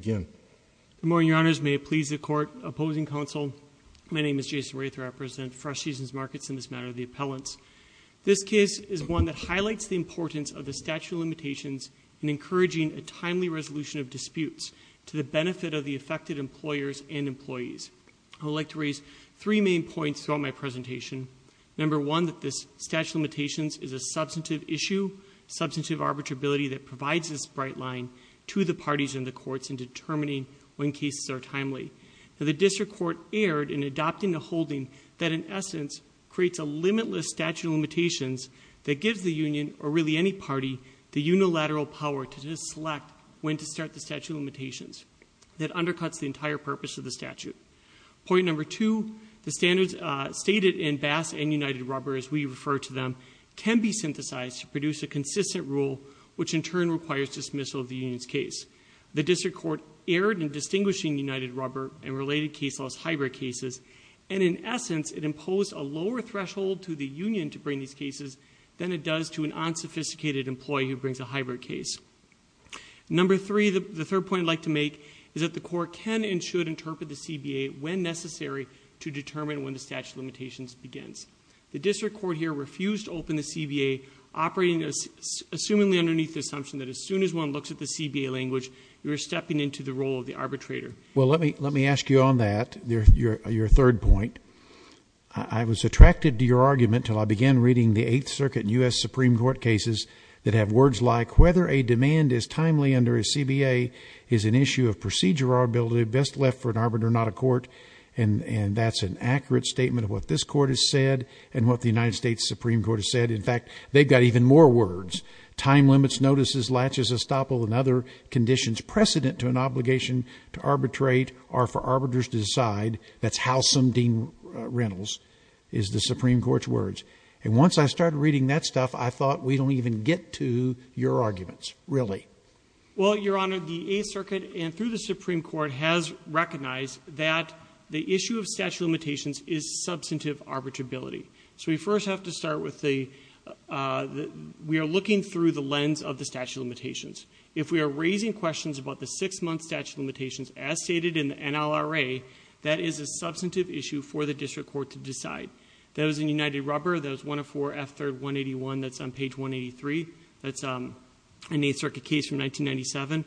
Good morning, Your Honors. May it please the Court, Opposing Counsel, my name is Jason Rayther. I represent Fresh Seasons Markets in this matter of the Appellants. This case is one that highlights the importance of the statute of limitations in encouraging a timely resolution of disputes to the benefit of the affected employers and employees. I would like to raise three main points throughout my presentation. Number one, that this statute of limitations is a substantive issue, substantive arbitrability that provides this bright line to the parties in the courts in determining when cases are timely. The District Court erred in adopting a holding that, in essence, creates a limitless statute of limitations that gives the union, or really any party, the unilateral power to select when to start the statute of limitations. That undercuts the entire purpose of the statute. Point number two, the standards stated in Bass and United Rubber, as we refer to them, can be synthesized to produce a consistent rule, which in turn requires dismissal of the union's case. The District Court erred in distinguishing United Rubber and related case laws hybrid cases, and in essence, it imposed a lower threshold to the union to bring these cases than it does to an unsophisticated employee who brings a hybrid case. Number three, the third point I'd like to make, is that the Court can and should interpret the CBA when necessary to determine when the statute of limitations begins. The District Court here refused to interpret the CBA, operating, assumingly, underneath the assumption that as soon as one looks at the CBA language, you're stepping into the role of the arbitrator. Well, let me ask you on that, your third point. I was attracted to your argument until I began reading the Eighth Circuit and U.S. Supreme Court cases that have words like, whether a demand is timely under a CBA is an issue of procedure or ability best left for an arbiter not a court, and that's an accurate statement of what this Court has said and what the United States has said. They've got even more words. Time limits, notices, latches, estoppel, and other conditions precedent to an obligation to arbitrate are for arbiters to decide. That's how some deem rentals, is the Supreme Court's words. And once I started reading that stuff, I thought, we don't even get to your arguments, really. Well, your Honor, the Eighth Circuit and through the Supreme Court has recognized that the issue of statute of limitations is substantive arbitrability. So we first have to start with the, we are looking through the lens of the statute of limitations. If we are raising questions about the six-month statute of limitations as stated in the NLRA, that is a substantive issue for the District Court to decide. That was in United Rubber, that was 104F3181, that's on page 183, that's an Eighth Circuit case from 1997.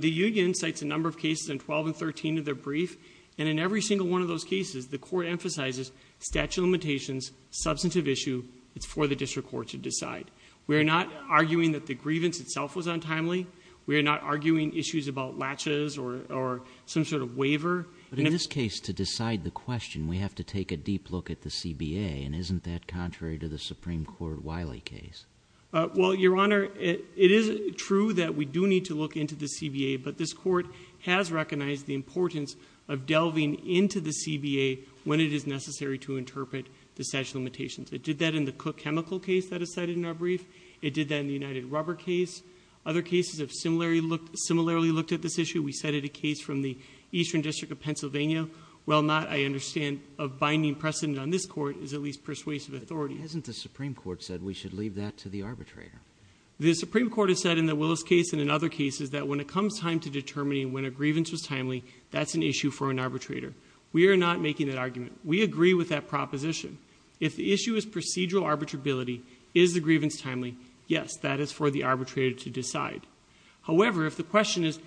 The Union cites a number of cases in 12 and 13 of their brief, and in every single one of those cases, the Court emphasizes statute of limitations, substantive issue, it's for the District Court to decide. We are not arguing that the grievance itself was untimely. We are not arguing issues about latches or some sort of waiver. But in this case, to decide the question, we have to take a deep look at the CBA, and isn't that contrary to the Supreme Court Wiley case? Well, your Honor, it is true that we do need to look into the CBA, but this Court has recognized the importance of delving into the CBA when it is necessary to interpret the statute of limitations. It did that in the Cook Chemical case that is cited in our brief. It did that in the United Rubber case. Other cases have similarly looked at this issue. We cited a case from the Eastern District of Pennsylvania. While not, I understand, a binding precedent on this Court is at least persuasive authority. But hasn't the Supreme Court said we should leave that to the arbitrator? The Supreme Court has said in the Willis case and in other cases that when it comes time to determining when a grievance was timely, that's an issue for an arbitrator. We are not making that argument. We agree with that proposition. If the issue is procedural arbitrability, is the grievance timely? Yes, that is for the arbitrator to decide. However, if the question is,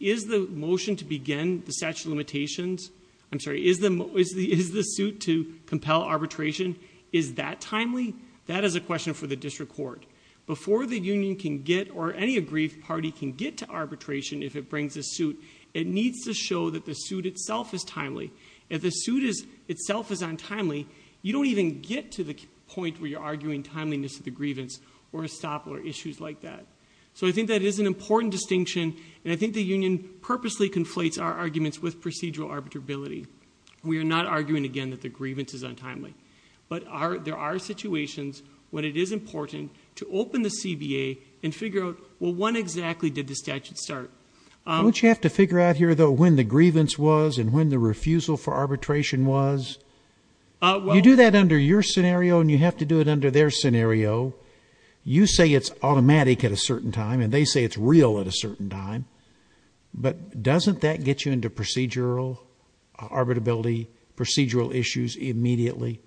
is the motion to begin the statute of limitations, I'm sorry, is the suit to compel arbitration, is that timely? That is a question for the District Court. Before the union can get, or any aggrieved party can get to arbitration if it brings a suit, it needs to show that the suit itself is timely. If the suit itself is untimely, you don't even get to the point where you're arguing timeliness of the grievance or estoppel or issues like that. So I think that is an important distinction, and I think the union purposely conflates our arguments with procedural arbitrability. We are not arguing again that the grievance is untimely. But there are situations when it is important to open the CBA and figure out, well, when exactly did the statute start? Don't you have to figure out here, though, when the grievance was and when the refusal for arbitration was? You do that under your scenario and you have to do it under their scenario. You say it's automatic at a certain time, and they say it's real at a certain time, but doesn't that get you into procedural arbitrability, procedural issues immediately?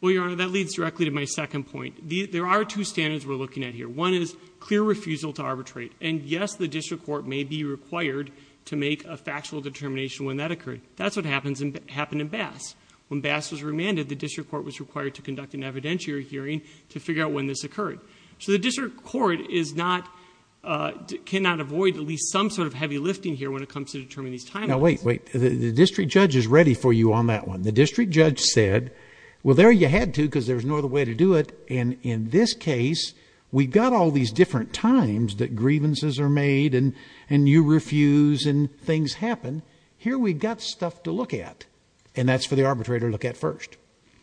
Well, Your Honor, that leads directly to my second point. There are two standards we're looking at here. One is clear refusal to arbitrate, and yes, the district court may be required to make a factual determination when that occurred. That's what happened in Bass. When Bass was remanded, the district court was required to conduct an evidentiary hearing to figure out when this occurred. So the district court cannot avoid at least some sort of heavy lifting here when it comes to determining timeliness. Now, wait, wait. The district judge is ready for you on that one. The district judge said, well, there you had to because there's no other way to do it, and in this case, we've got all these different times that grievances are made and you refuse and things happen. Here we've got stuff to look at, and that's for the arbitrator to look at first.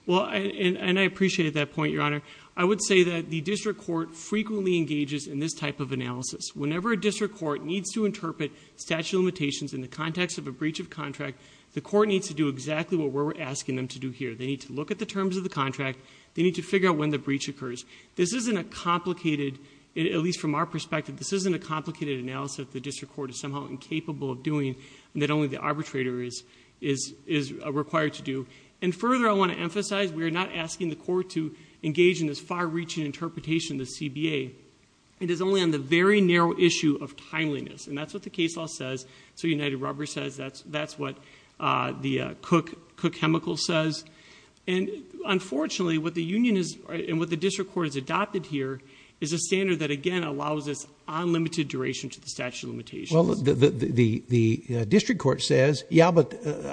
Well, and I appreciate that point, Your Honor. I would say that the district court frequently engages in this type of analysis. Whenever a district court needs to interpret statute limitations in the context of a breach of contract, the court needs to do exactly what we're asking them to do here. They need to look at the terms of the contract. They need to figure out when the breach occurs. This isn't a complicated, at least from our perspective, this isn't a complicated analysis the district court is somehow incapable of doing and that only the arbitrator is required to do. And further, I want to emphasize, we are not asking the court to engage in this far-reaching interpretation of the CBA. It is only on the very narrow issue of timeliness, and that's what the case law says. So United Rubber says that's what the Cook Chemical says. And unfortunately, what the union is and what the district court has adopted here is a standard that again allows us unlimited duration to the statute of limitations. Well, the district court says, yeah, but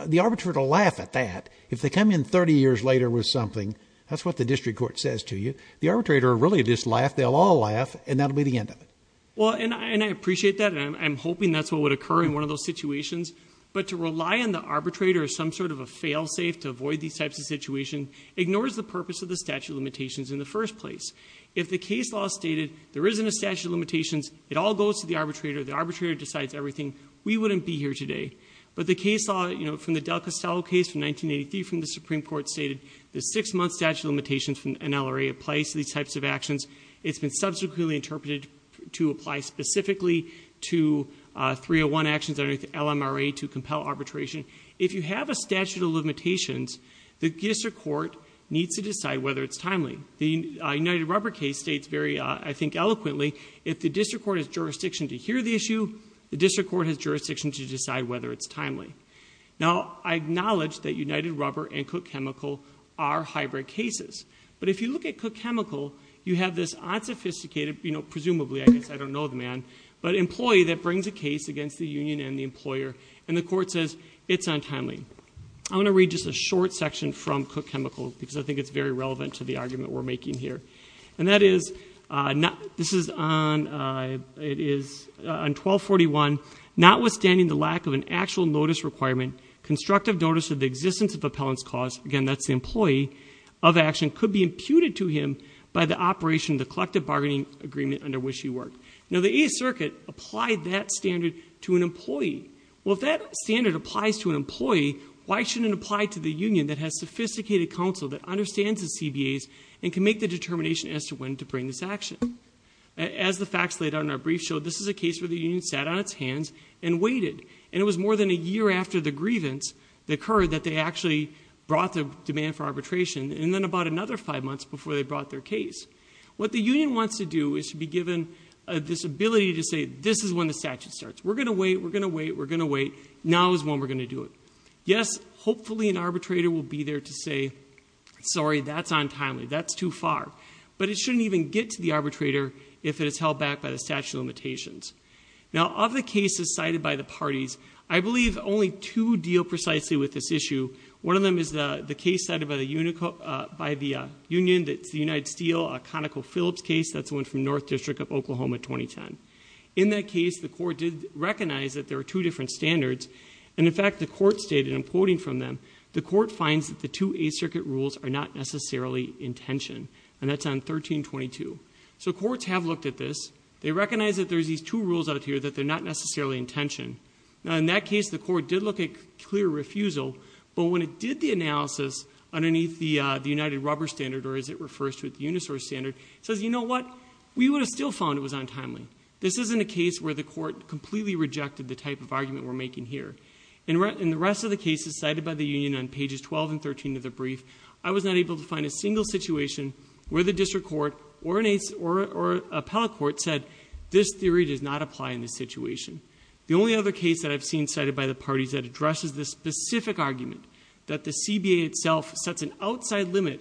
the arbitrator will laugh at that. If they come in 30 years later with something, that's what the district court says to you. The arbitrator will really just laugh, they'll all laugh, and that'll be the end of it. Well, and I appreciate that, and I'm hoping that's what would occur in one of those situations, but to rely on the arbitrator as some sort of a fail-safe to avoid these types of situations ignores the purpose of the statute of limitations in the first place. If the case law stated there isn't a statute of limitations, it all goes to the arbitrator, the arbitrator decides everything, we wouldn't be here today. But the case law from the Del Castello case from 1983 from the Supreme Court stated the six-month statute of limitations from an LRA applies to these types of actions. It's been subsequently interpreted to apply specifically to 301 actions under the LMRA to compel arbitration. If you have a statute of limitations, the district court needs to decide whether it's timely. The United Rubber case states very, I think, eloquently, if the district court has jurisdiction to hear the issue, the district court has jurisdiction to decide whether it's timely. Now, I acknowledge that United Rubber and Cook Chemical are hybrid cases, but if you look at Cook Chemical, you have this unsophisticated, presumably, I don't know the man, but employee that brings a case against the union and the employer, and the court says it's untimely. I'm going to read just a short section from Cook Chemical because I think it's very relevant to the argument we're making here. And that is, this is on 1241, notwithstanding the lack of an actual notice requirement, constructive notice of the existence of appellant's cause, again, that's employee of action, could be imputed to him by the operation of the collective bargaining agreement under which he worked. Now, the Eighth Circuit applied that standard to an employee. Well, if that standard applies to an employee, why shouldn't it apply to the union that has sophisticated counsel that understands the CBAs and can make the determination as to when to bring this action? As the facts laid out in our brief show, this is a case where the union sat on its hands and waited, and it was more than a year after the grievance that occurred that they actually brought the demand for arbitration, and then about another five months before they brought their case. What the union wants to do is to be given this ability to say, this is when the statute starts. We're going to wait. We're going to wait. We're going to wait. Now is when we're going to do it. Yes, hopefully an arbitrator will be there to say, sorry, that's untimely. That's too far. But it shouldn't even get to the arbitrator if it is held back by the statute of limitations. Now, of the cases cited by the parties, I believe only two deal precisely with this issue. One of them is the case cited by the union that's the United Steel, a ConocoPhillips case. That's one from North District of Oklahoma 2010. In that case, the court did recognize that there are two different standards. And in fact, the court stated, and I'm quoting from them, the court finds that the two Eighth Circuit rules are not necessarily in tension. And that's on 1322. So courts have looked at this. They recognize that there's these two rules out here that they're not necessarily in tension. Now, in that case, the court did look at clear refusal. But when it did the analysis underneath the United rubber standard, or as it refers to it, the Unisource standard, says, you know what? We would have still found it was untimely. This isn't a case where the court completely rejected the type of argument we're making here. In the rest of the cases cited by the union on pages 12 and 13 of the brief, I was not able to find a single situation where the only other case that I've seen cited by the parties that addresses this specific argument, that the CBA itself sets an outside limit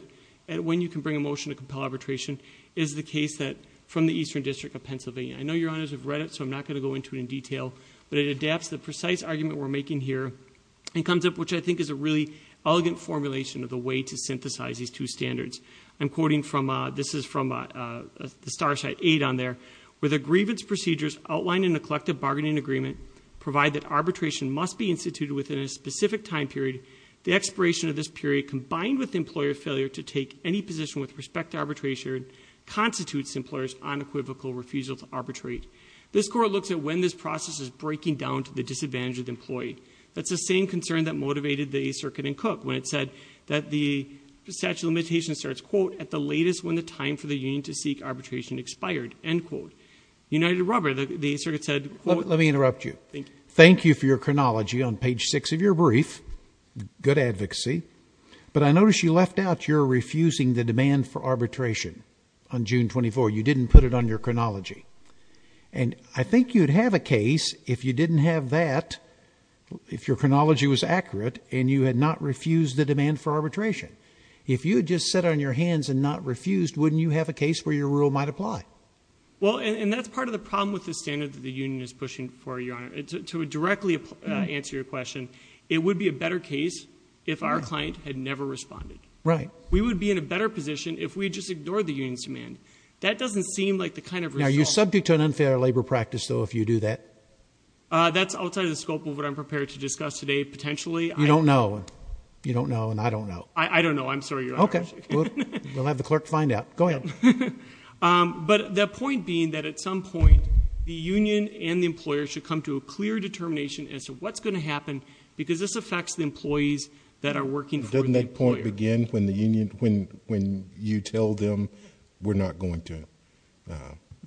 at when you can bring a motion to compel arbitration, is the case that from the Eastern District of Pennsylvania. I know your honors have read it, so I'm not going to go into it in detail. But it adapts the precise argument we're making here and comes up, which I think is a really elegant formulation of the way to synthesize these two standards. I'm quoting from, this is from the Starshite Eight on there, where the grievance procedures outlined in the collective bargaining agreement provide that arbitration must be instituted within a specific time period. The expiration of this period, combined with employer failure to take any position with respect to arbitration, constitutes employers unequivocal refusal to arbitrate. This court looks at when this process is breaking down to the disadvantage of the employee. That's the same concern that motivated the circuit in Cook when it said that the statute of limitations starts, quote, at the latest when the time for the union to seek arbitration. Robert, the circuit said... Let me interrupt you. Thank you for your chronology on page six of your brief. Good advocacy. But I noticed you left out your refusing the demand for arbitration on June 24. You didn't put it on your chronology. And I think you'd have a case if you didn't have that, if your chronology was accurate and you had not refused the demand for arbitration. If you had just said on your hands and not refused, wouldn't you have a case where your rule might apply? Well, and that's part of the problem with the standard that the union is pushing for, Your Honor. To directly answer your question, it would be a better case if our client had never responded. Right. We would be in a better position if we just ignored the union's demand. That doesn't seem like the kind of... Now, are you subject to an unfair labor practice, though, if you do that? That's outside the scope of what I'm prepared to discuss today. Potentially, I... You don't know. You don't know and I don't know. I don't know. I'm sorry, Your Honor. Okay. We'll have the clerk find out. Go ahead. But the point being that at some point, the union and the employer should come to a clear determination as to what's going to happen because this affects the employees that are working for the employer. Doesn't that point begin when you tell them, we're not going to...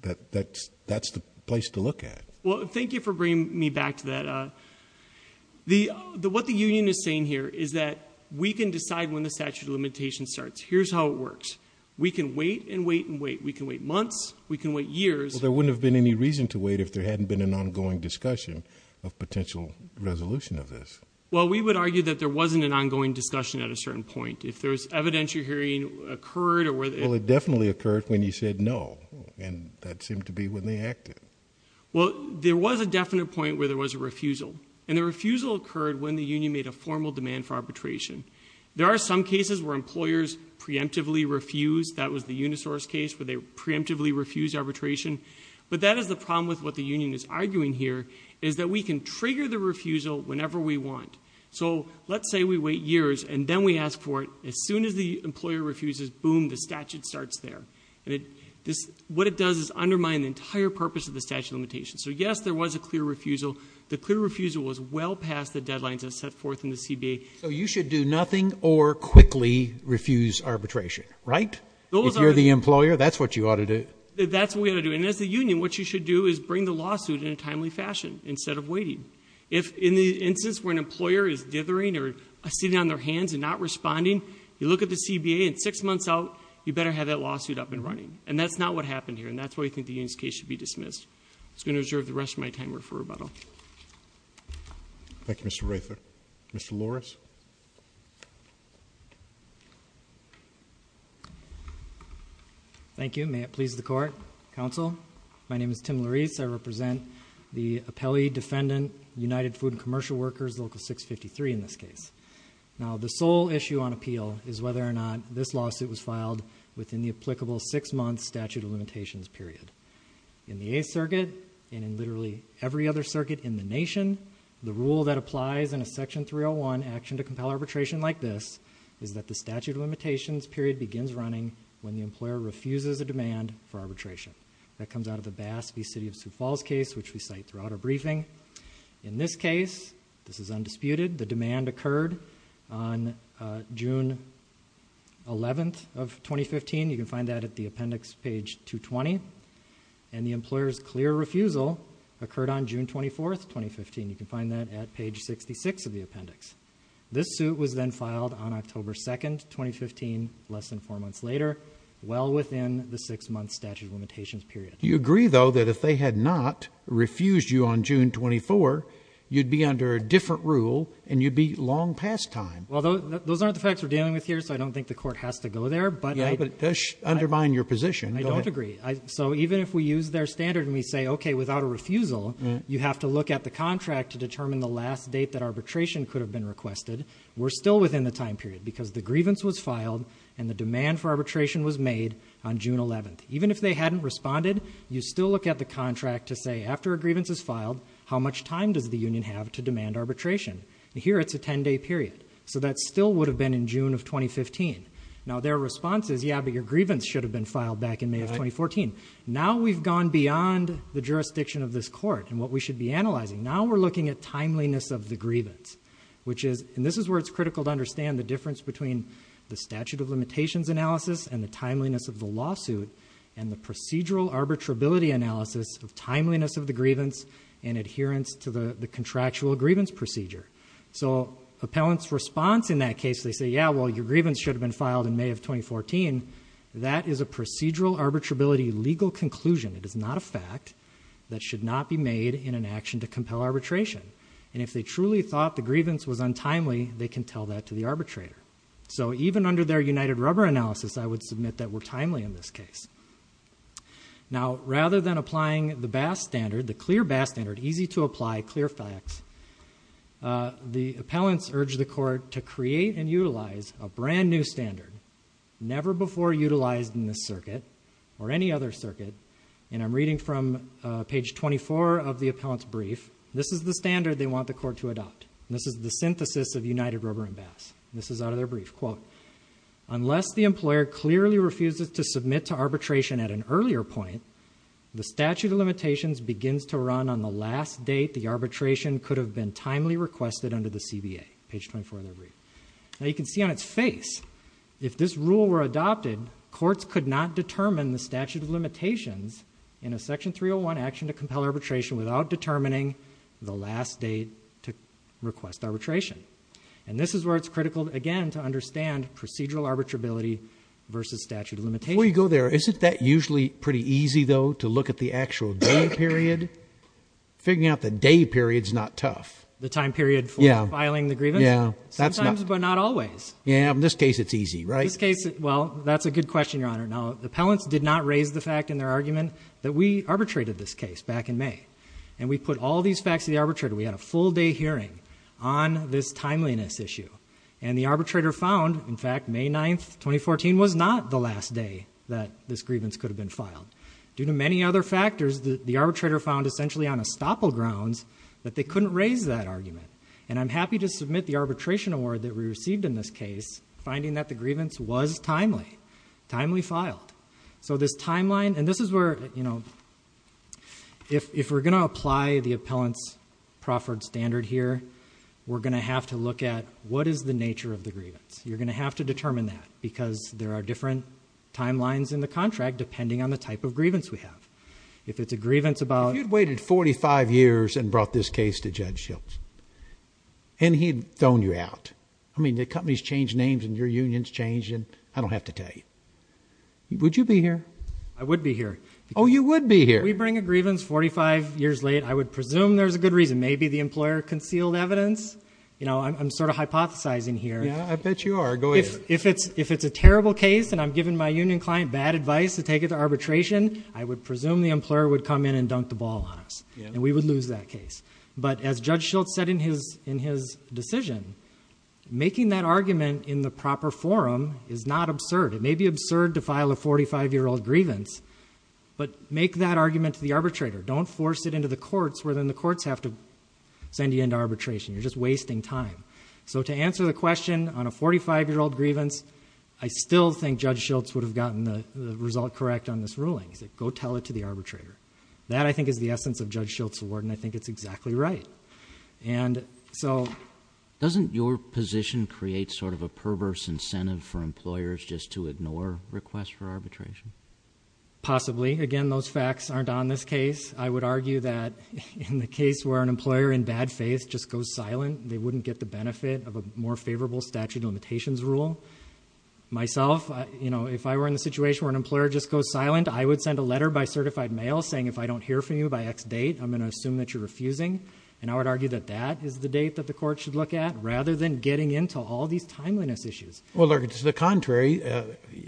That's the place to look at. Well, thank you for bringing me back to that. What the union is saying here is that we can decide when the statute of limitations starts. Here's how it works. We can wait and wait and wait. We can wait months. We can wait years. There wouldn't have been any reason to wait if there hadn't been an ongoing discussion of potential resolution of this. Well, we would argue that there wasn't an ongoing discussion at a certain point. If there's evidence you're hearing occurred or whether... Well, it definitely occurred when you said no and that seemed to be when they acted. Well, there was a definite point where there was a refusal and the refusal occurred when the union made a formal demand for arbitration. There are some cases where employers preemptively refused. That was the Unisource case where they preemptively refused arbitration, but that is the problem with what the union is arguing here is that we can trigger the refusal whenever we want. Let's say we wait years and then we ask for it. As soon as the employer refuses, boom, the statute starts there. What it does is undermine the entire purpose of the statute of limitations. Yes, there was a clear refusal. The clear refusal was well past the deadlines that set forth in the CBA. So you should do nothing or quickly refuse arbitration, right? If you're the employer, that's what you ought to do. That's what we ought to do. And as the union, what you should do is bring the lawsuit in a timely fashion instead of waiting. If in the instance where an employer is dithering or sitting on their hands and not responding, you look at the CBA and six months out, you better have that lawsuit up and running. And that's not what happened here. And that's why I think the union's case should be dismissed. I'm just going to reserve the rest of my time for rebuttal. Thank you, Mr. Rather. Mr. Loris. Thank you. May it please the court. Counsel, my name is Tim Loris. I represent the appellee defendant, United Food and Commercial Workers, Local 653 in this case. Now, the sole issue on appeal is whether or not this lawsuit was filed within the applicable six-month statute of and in literally every other circuit in the nation. The rule that applies in a section 301 action to compel arbitration like this is that the statute of limitations period begins running when the employer refuses a demand for arbitration. That comes out of the Bass v. City of Sioux Falls case, which we cite throughout our briefing. In this case, this is undisputed. The demand occurred on June 11th of 2015. You can find that at the appendix page 220. And the employer's clear refusal occurred on June 24th, 2015. You can find that at page 66 of the appendix. This suit was then filed on October 2nd, 2015, less than four months later, well within the six-month statute of limitations period. You agree, though, that if they had not refused you on June 24, you'd be under a different rule and you'd be long past time? Well, those aren't the facts we're dealing with here, so I don't think the court has to go there, but... Yeah, but it does undermine your position. I don't agree. So even if we use their standard and we say, okay, without a refusal, you have to look at the contract to determine the last date that arbitration could have been requested. We're still within the time period because the grievance was filed and the demand for arbitration was made on June 11th. Even if they hadn't responded, you still look at the union have to demand arbitration. Here it's a 10-day period. So that still would have been in June of 2015. Now their response is, yeah, but your grievance should have been filed back in May of 2014. Now we've gone beyond the jurisdiction of this court and what we should be analyzing. Now we're looking at timeliness of the grievance, which is... And this is where it's critical to understand the difference between the statute of limitations analysis and the timeliness of the lawsuit and the procedural arbitrability analysis of timeliness of the grievance and adherence to the contractual grievance procedure. So appellant's response in that case, they say, yeah, well, your grievance should have been filed in May of 2014. That is a procedural arbitrability legal conclusion. It is not a fact that should not be made in an action to compel arbitration. And if they truly thought the grievance was untimely, they can tell that to the arbitrator. So even under their united rubber analysis, I would submit that we're timely in this case. Now, rather than applying the BAS standard, the clear BAS standard, easy to apply, clear facts, the appellants urged the court to create and utilize a brand new standard never before utilized in this circuit or any other circuit. And I'm reading from page 24 of the appellant's brief. This is the standard they want the court to adopt. This is the synthesis of united rubber and BAS. This is out of their brief quote, unless the employer clearly refuses to submit to arbitration at an earlier point, the statute of limitations begins to run on the last date the arbitration could have been timely requested under the CBA, page 24 of their brief. Now, you can see on its face, if this rule were adopted, courts could not determine the statute of limitations in a section 301 action to compel arbitration without determining the last date to request arbitration. And this is where it's critical, again, to understand procedural arbitrability versus statute of limitations. Before you go there, isn't that usually pretty easy, though, to look at the actual day period? Figuring out the day period's not tough. The time period for filing the grievance? Yeah. Sometimes, but not always. Yeah. In this case, it's easy, right? In this case, well, that's a good question, Your Honor. Now, the appellants did not raise the fact in their argument that we arbitrated this case back in May. And we put all these facts to the arbitrator. We had a full day hearing on this timeliness issue. And the arbitrator found, in fact, May 9, 2014 was not the last day that this grievance could have been filed. Due to many other factors, the arbitrator found, essentially, on estoppel grounds that they couldn't raise that argument. And I'm happy to submit the arbitration award that we received in this case, finding that the grievance was timely, timely filed. So this timeline, and this is where, you know, if we're going to apply the appellant's proffered standard here, we're going to have to look at what is the nature of the grievance. You're going to have to determine that, because there are different timelines in the contract, depending on the type of grievance we have. If it's a grievance about... If you'd waited 45 years and brought this case to Judge Schultz, and he'd thrown you out, I mean, the company's changed names, and your union's changed, and I don't have to tell you. Would you be here? I would be here. Oh, you would be here. We bring a grievance 45 years late, I would presume there's a good reason. Maybe the employer concealed evidence. You know, I'm sort of hypothesizing here. Yeah, I bet you are. Go ahead. If it's a terrible case, and I'm giving my union client bad advice to take it to arbitration, I would presume the employer would come in and dunk the ball on us, and we would lose that case. But as Judge Schultz said in his decision, making that argument in the proper forum is not absurd. It may be absurd to file a 45-year-old grievance, but make that argument to the arbitrator. Don't force it into the courts, where then the courts have to send you into arbitration. You're just wasting time. So to answer the question on a 45-year-old grievance, I still think Judge Schultz would have gotten the result correct on this ruling. He said, go tell it to the arbitrator. That, I think, is the essence of Judge Schultz's award, and I think it's exactly right. And so... Doesn't your position create sort of a perverse incentive for employers just to ignore requests for arbitration? Possibly. Again, those facts aren't on this case. I would argue that in the case where an employer in bad faith just goes silent, they wouldn't get the benefit of a more favorable statute of limitations rule. Myself, if I were in the situation where an employer just goes silent, I would send a letter by certified mail saying, if I don't hear from you by X date, I'm going to assume that you're refusing. And I would argue that that is the date that the court should look at, rather than getting into all these timeliness issues. Well, Lurk, it's the contrary.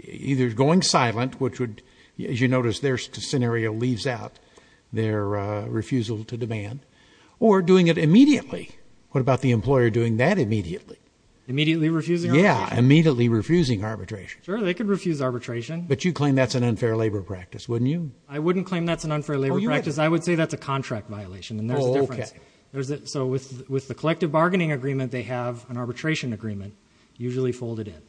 Either going silent, which would, as you notice, their scenario leaves out their refusal to demand, or doing it immediately. What about the employer doing that immediately? Immediately refusing arbitration? Yeah, immediately refusing arbitration. Sure, they could refuse arbitration. But you'd claim that's an unfair labor practice, wouldn't you? I wouldn't claim that's an unfair labor practice. I would say that's a contract violation, and that's the difference. So with the collective bargaining agreement, they have an arbitration agreement, usually folded in.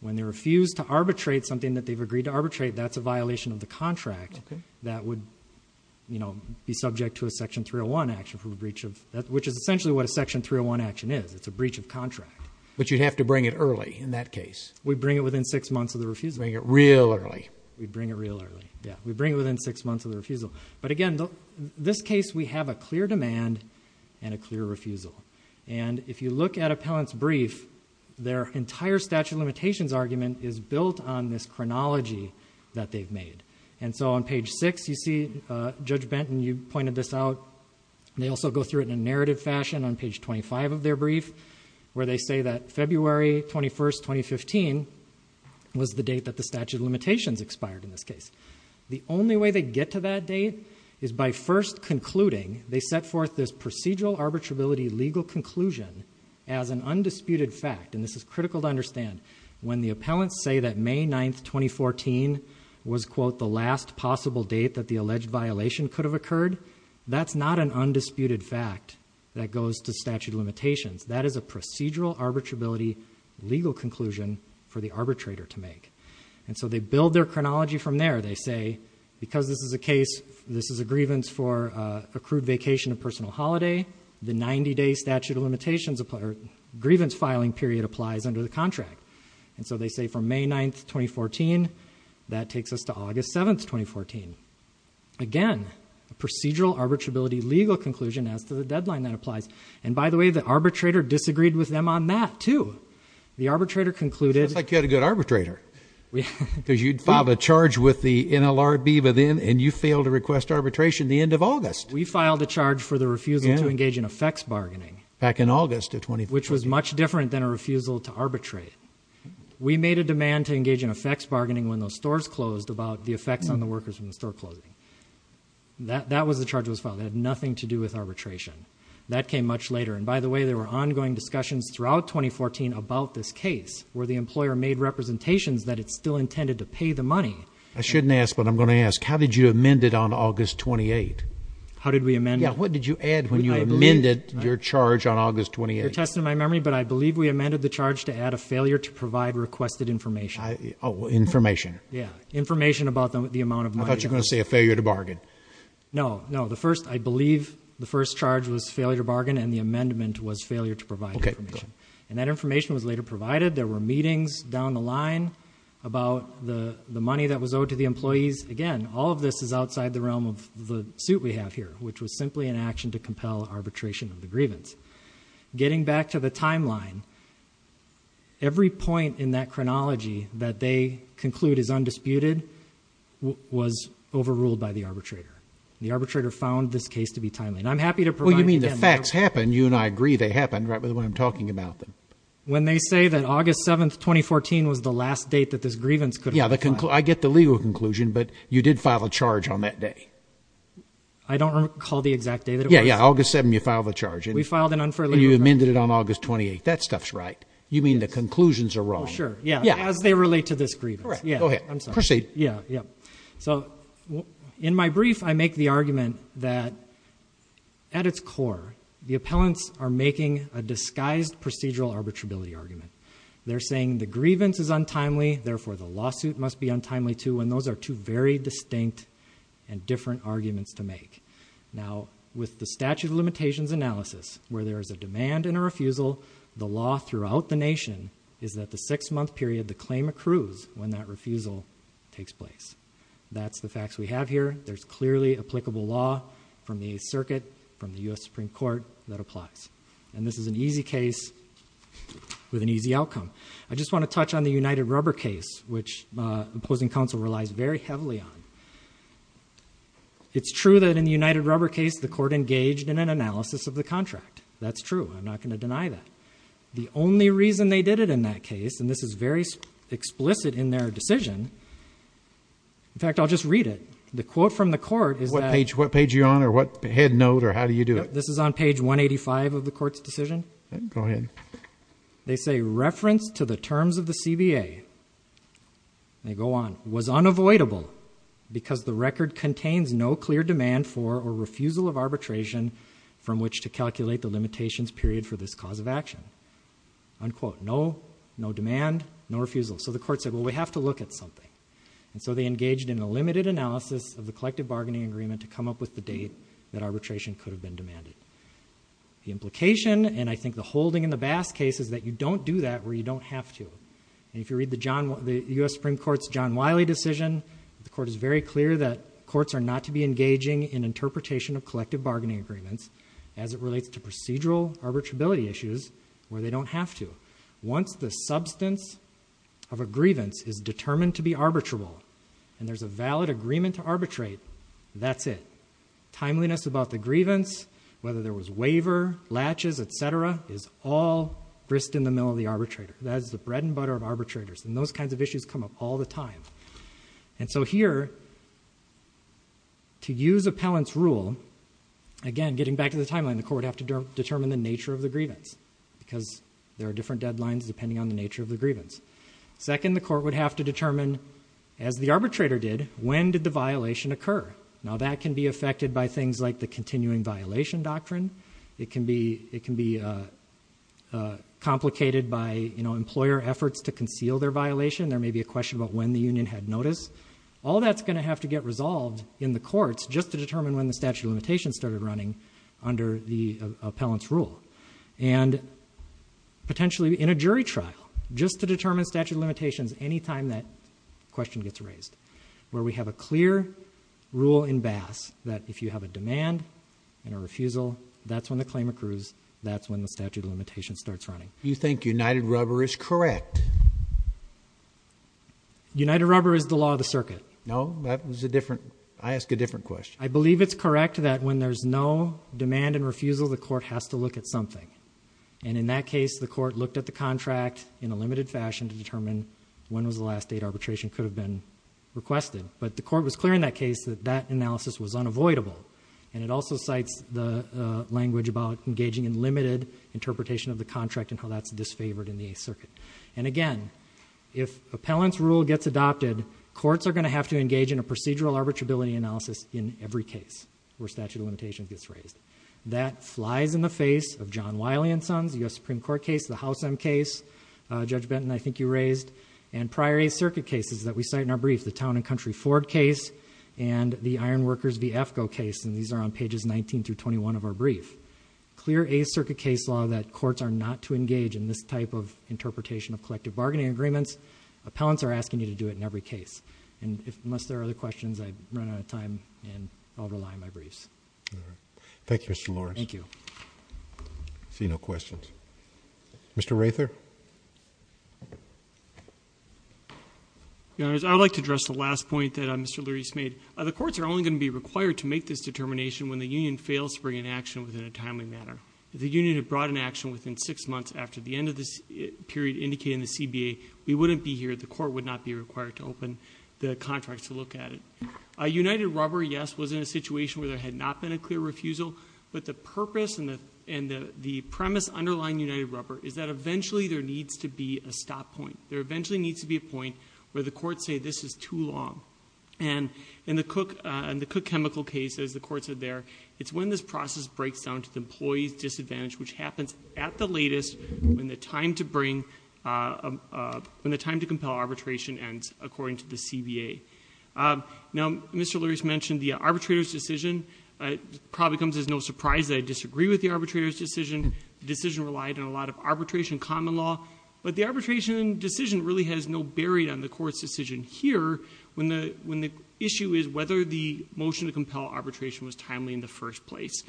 When they refuse to arbitrate something that they've agreed to arbitrate, that's a violation of the contract that would be subject to a section 301 action, which is essentially what a section 301 action is. It's a breach of contract. But you'd have to bring it early, in that case. We'd bring it within six months of the refusal. Bring it real early. We'd bring it real early, yeah. We'd bring it within six months of the refusal. But again, this case, we have a clear demand and a clear refusal. And if you look at Appellant's brief, their entire statute of limitations argument is built on this chronology that they've made. And so on page six, you see Judge Benton, you pointed this out. They also go through it in a narrative fashion on page 25 of their brief, where they say that February 21, 2015 was the date that the statute of limitations expired in this case. The only way they get to that date is by first concluding, they set forth this procedural arbitrability legal conclusion as an undisputed fact. And this is critical to understand. When the appellants say that May 9, 2014 was, quote, the last possible date that the alleged violation could have occurred, that's not an undisputed fact that goes to statute of limitations. That is a procedural arbitrability legal conclusion for the arbitrator to make. And so they build their chronology from there. They say, because this is a case, this is a grievance for accrued vacation and personal holiday, the 90-day statute of limitations or grievance filing period applies under the contract. And so they say from May 9, 2014, that takes us to August 7, 2014. Again, a procedural arbitrability legal conclusion as to the deadline that applies. And by the way, the arbitrator disagreed with them on that, too. The arbitrator concluded... It sounds like you had a good arbitrator, because you'd filed a charge with the NLRB but then, and you failed to request arbitration the end of August. We filed a charge for the refusal to engage in effects bargaining. Back in August of 2014. Which was much different than a refusal to arbitrate. We made a demand to engage in effects bargaining when those stores closed about the effects on the workers from the store closing. That was the charge that was filed. It had nothing to do with arbitration. That came much later. And by the way, there were ongoing discussions throughout 2014 about this case, where the employer made representations that it still intended to pay the money. I shouldn't ask, but I'm going to ask. How did you amend it on August 28? Yeah, what did you add when you amended your charge on August 28? You're testing my memory, but I believe we amended the charge to add a failure to provide requested information. Oh, information. Yeah, information about the amount of money. I thought you were going to say a failure to bargain. No, no. The first, I believe, the first charge was failure to bargain, and the amendment was failure to provide information. And that information was later provided. There were meetings down the line about the money that was owed to the employees. Again, all of this is outside the realm of the suit we have here, which was simply an action to compel arbitration of the grievance. Getting back to the timeline, every point in that chronology that they conclude is undisputed was overruled by the arbitrator. The arbitrator found this case to be timely. And I'm happy to provide- Well, you mean the facts happened. You and I agree they happened, right, with what I'm talking about. When they say that August 7, 2014 was the last date that this grievance could- Yeah, I get the legal conclusion, but you did file a charge on that day. I don't recall the exact day that it was. Yeah, yeah. August 7, you filed a charge. And we filed an unfairly- And you amended it on August 28. That stuff's right. You mean the conclusions are wrong. Oh, sure. Yeah. As they relate to this grievance. Correct. Go ahead. I'm sorry. Proceed. Yeah, yeah. So in my brief, I make the argument that at its core, the appellants are making a disguised procedural arbitrability argument. They're saying the grievance is untimely. Therefore, the lawsuit must be untimely too. And those are two very distinct and different arguments to make. Now, with the statute of limitations analysis, where there is a demand and a refusal, the law throughout the nation is that the six-month period the claim accrues when that refusal takes place. That's the facts we have here. There's clearly applicable law from the Eighth Circuit, from the U.S. Supreme Court that applies. And this is an easy case with an easy outcome. I just want to touch on the United Rubber case, which the opposing counsel relies very heavily on. It's true that in the United Rubber case, the court engaged in an analysis of the contract. That's true. I'm not going to deny that. The only reason they did it in that case, and this is very explicit in their decision, in fact, I'll just read it. The quote from the court is that- What page are you on or what head note or how do you do it? This is on page 185 of the court's decision. Go ahead. They say, reference to the terms of the CBA, they go on, was unavoidable because the record contains no clear demand for or refusal of arbitration from which to calculate the limitations period for this cause of action, unquote. No, no demand, no refusal. So the court said, well, we have to look at something. And so they engaged in a limited analysis of the collective bargaining agreement to come up with the date that arbitration could have been demanded. The implication and I think the holding in the Bass case is that you don't do that where you don't have to. And if you read the US Supreme Court's John Wiley decision, the court is very clear that courts are not to be engaging in interpretation of collective bargaining agreements as it relates to procedural arbitrability issues where they don't have to. Once the substance of a grievance is determined to be arbitrable and there's a valid agreement to arbitrate, that's it. Timeliness about the grievance, whether there was waiver, latches, et cetera, is all brisked in the middle of the arbitrator. That is the bread and butter of arbitrators. And those kinds of issues come up all the time. And so here, to use appellant's rule, again, getting back to the timeline, the court would have to determine the nature of the grievance because there are different deadlines depending on the nature of the grievance. Second, the court would have to determine, as the arbitrator did, when did the violation occur? Now, that can be affected by things like the continuing violation doctrine. It can be complicated by employer efforts to conceal their violation. There may be a question about when the union had notice. All that's going to have to get resolved in the courts just to determine when the statute of limitations started running under the appellant's rule. And potentially in a jury trial, just to determine statute of limitations any time that question gets raised, where we have a clear rule in Bass that if you have a demand and a refusal, that's when the claim accrues, that's when the statute of limitations starts running. Do you think United Rubber is correct? United Rubber is the law of the circuit. No, that was a different, I ask a different question. I believe it's correct that when there's no demand and refusal, the court has to look at something. And in that case, the court looked at the contract in a limited fashion to determine when was the last date arbitration could have been requested. But the court was clear in that case that that analysis was unavoidable. And it also cites the language about engaging in limited interpretation of the contract and how that's disfavored in the Eighth Circuit. And again, if appellant's rule gets adopted, courts are going to have to engage in a procedural arbitrability analysis in every case where statute of limitations gets raised. That flies in the face of John Wiley and Sons, the U.S. Supreme Court case, the House M case. Judge Benton, I think you raised. And prior Eighth Circuit cases that we cite in our brief, the Town and Country Ford case and the Iron Workers v. AFCO case. And these are on pages 19 through 21 of our brief. Clear Eighth Circuit case law that courts are not to engage in this type of interpretation of collective bargaining agreements, appellants are asking you to do it in every case. And unless there are other questions, I've run out of time and I'll rely on my briefs. All right. Thank you, Mr. Lawrence. Thank you. I see no questions. Mr. Rather? Your Honor, I would like to address the last point that Mr. Luries made. The courts are only going to be required to make this determination when the union fails to bring an action within a timely manner. If the union had brought an action within six months after the end of this period indicated in the CBA, we wouldn't be here. The court would not be required to open the contracts to look at it. United Rubber, yes, was in a situation where there had not been a clear refusal. But the purpose and the premise underlying United Rubber is that there needs to be a stop point. There eventually needs to be a point where the courts say this is too long. And in the Cook chemical case, as the courts are there, it's when this process breaks down to the employee's disadvantage, which happens at the latest when the time to bring, when the time to compel arbitration ends, according to the CBA. Now, Mr. Luries mentioned the arbitrator's decision. It probably comes as no surprise that I disagree with the arbitrator's decision. The decision relied on a lot of arbitration common law, but the arbitration decision really has no bearing on the court's decision here when the issue is whether the motion to compel arbitration was timely in the first place.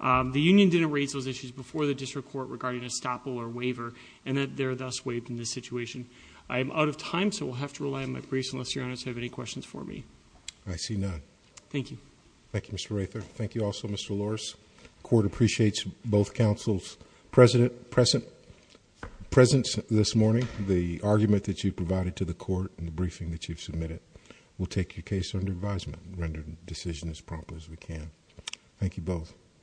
The union didn't raise those issues before the district court regarding a stop or waiver, and that they're thus waived in this situation. I'm out of time, so we'll have to rely on my briefs, unless your honors have any questions for me. I see none. Thank you. Thank you, Mr. Rayther. Thank you also, Mr. Luries. Court appreciates both counsel's presence this morning, the argument that you provided to the court, and the briefing that you've submitted. We'll take your case under advisement and render the decision as promptly as we can. Thank you both.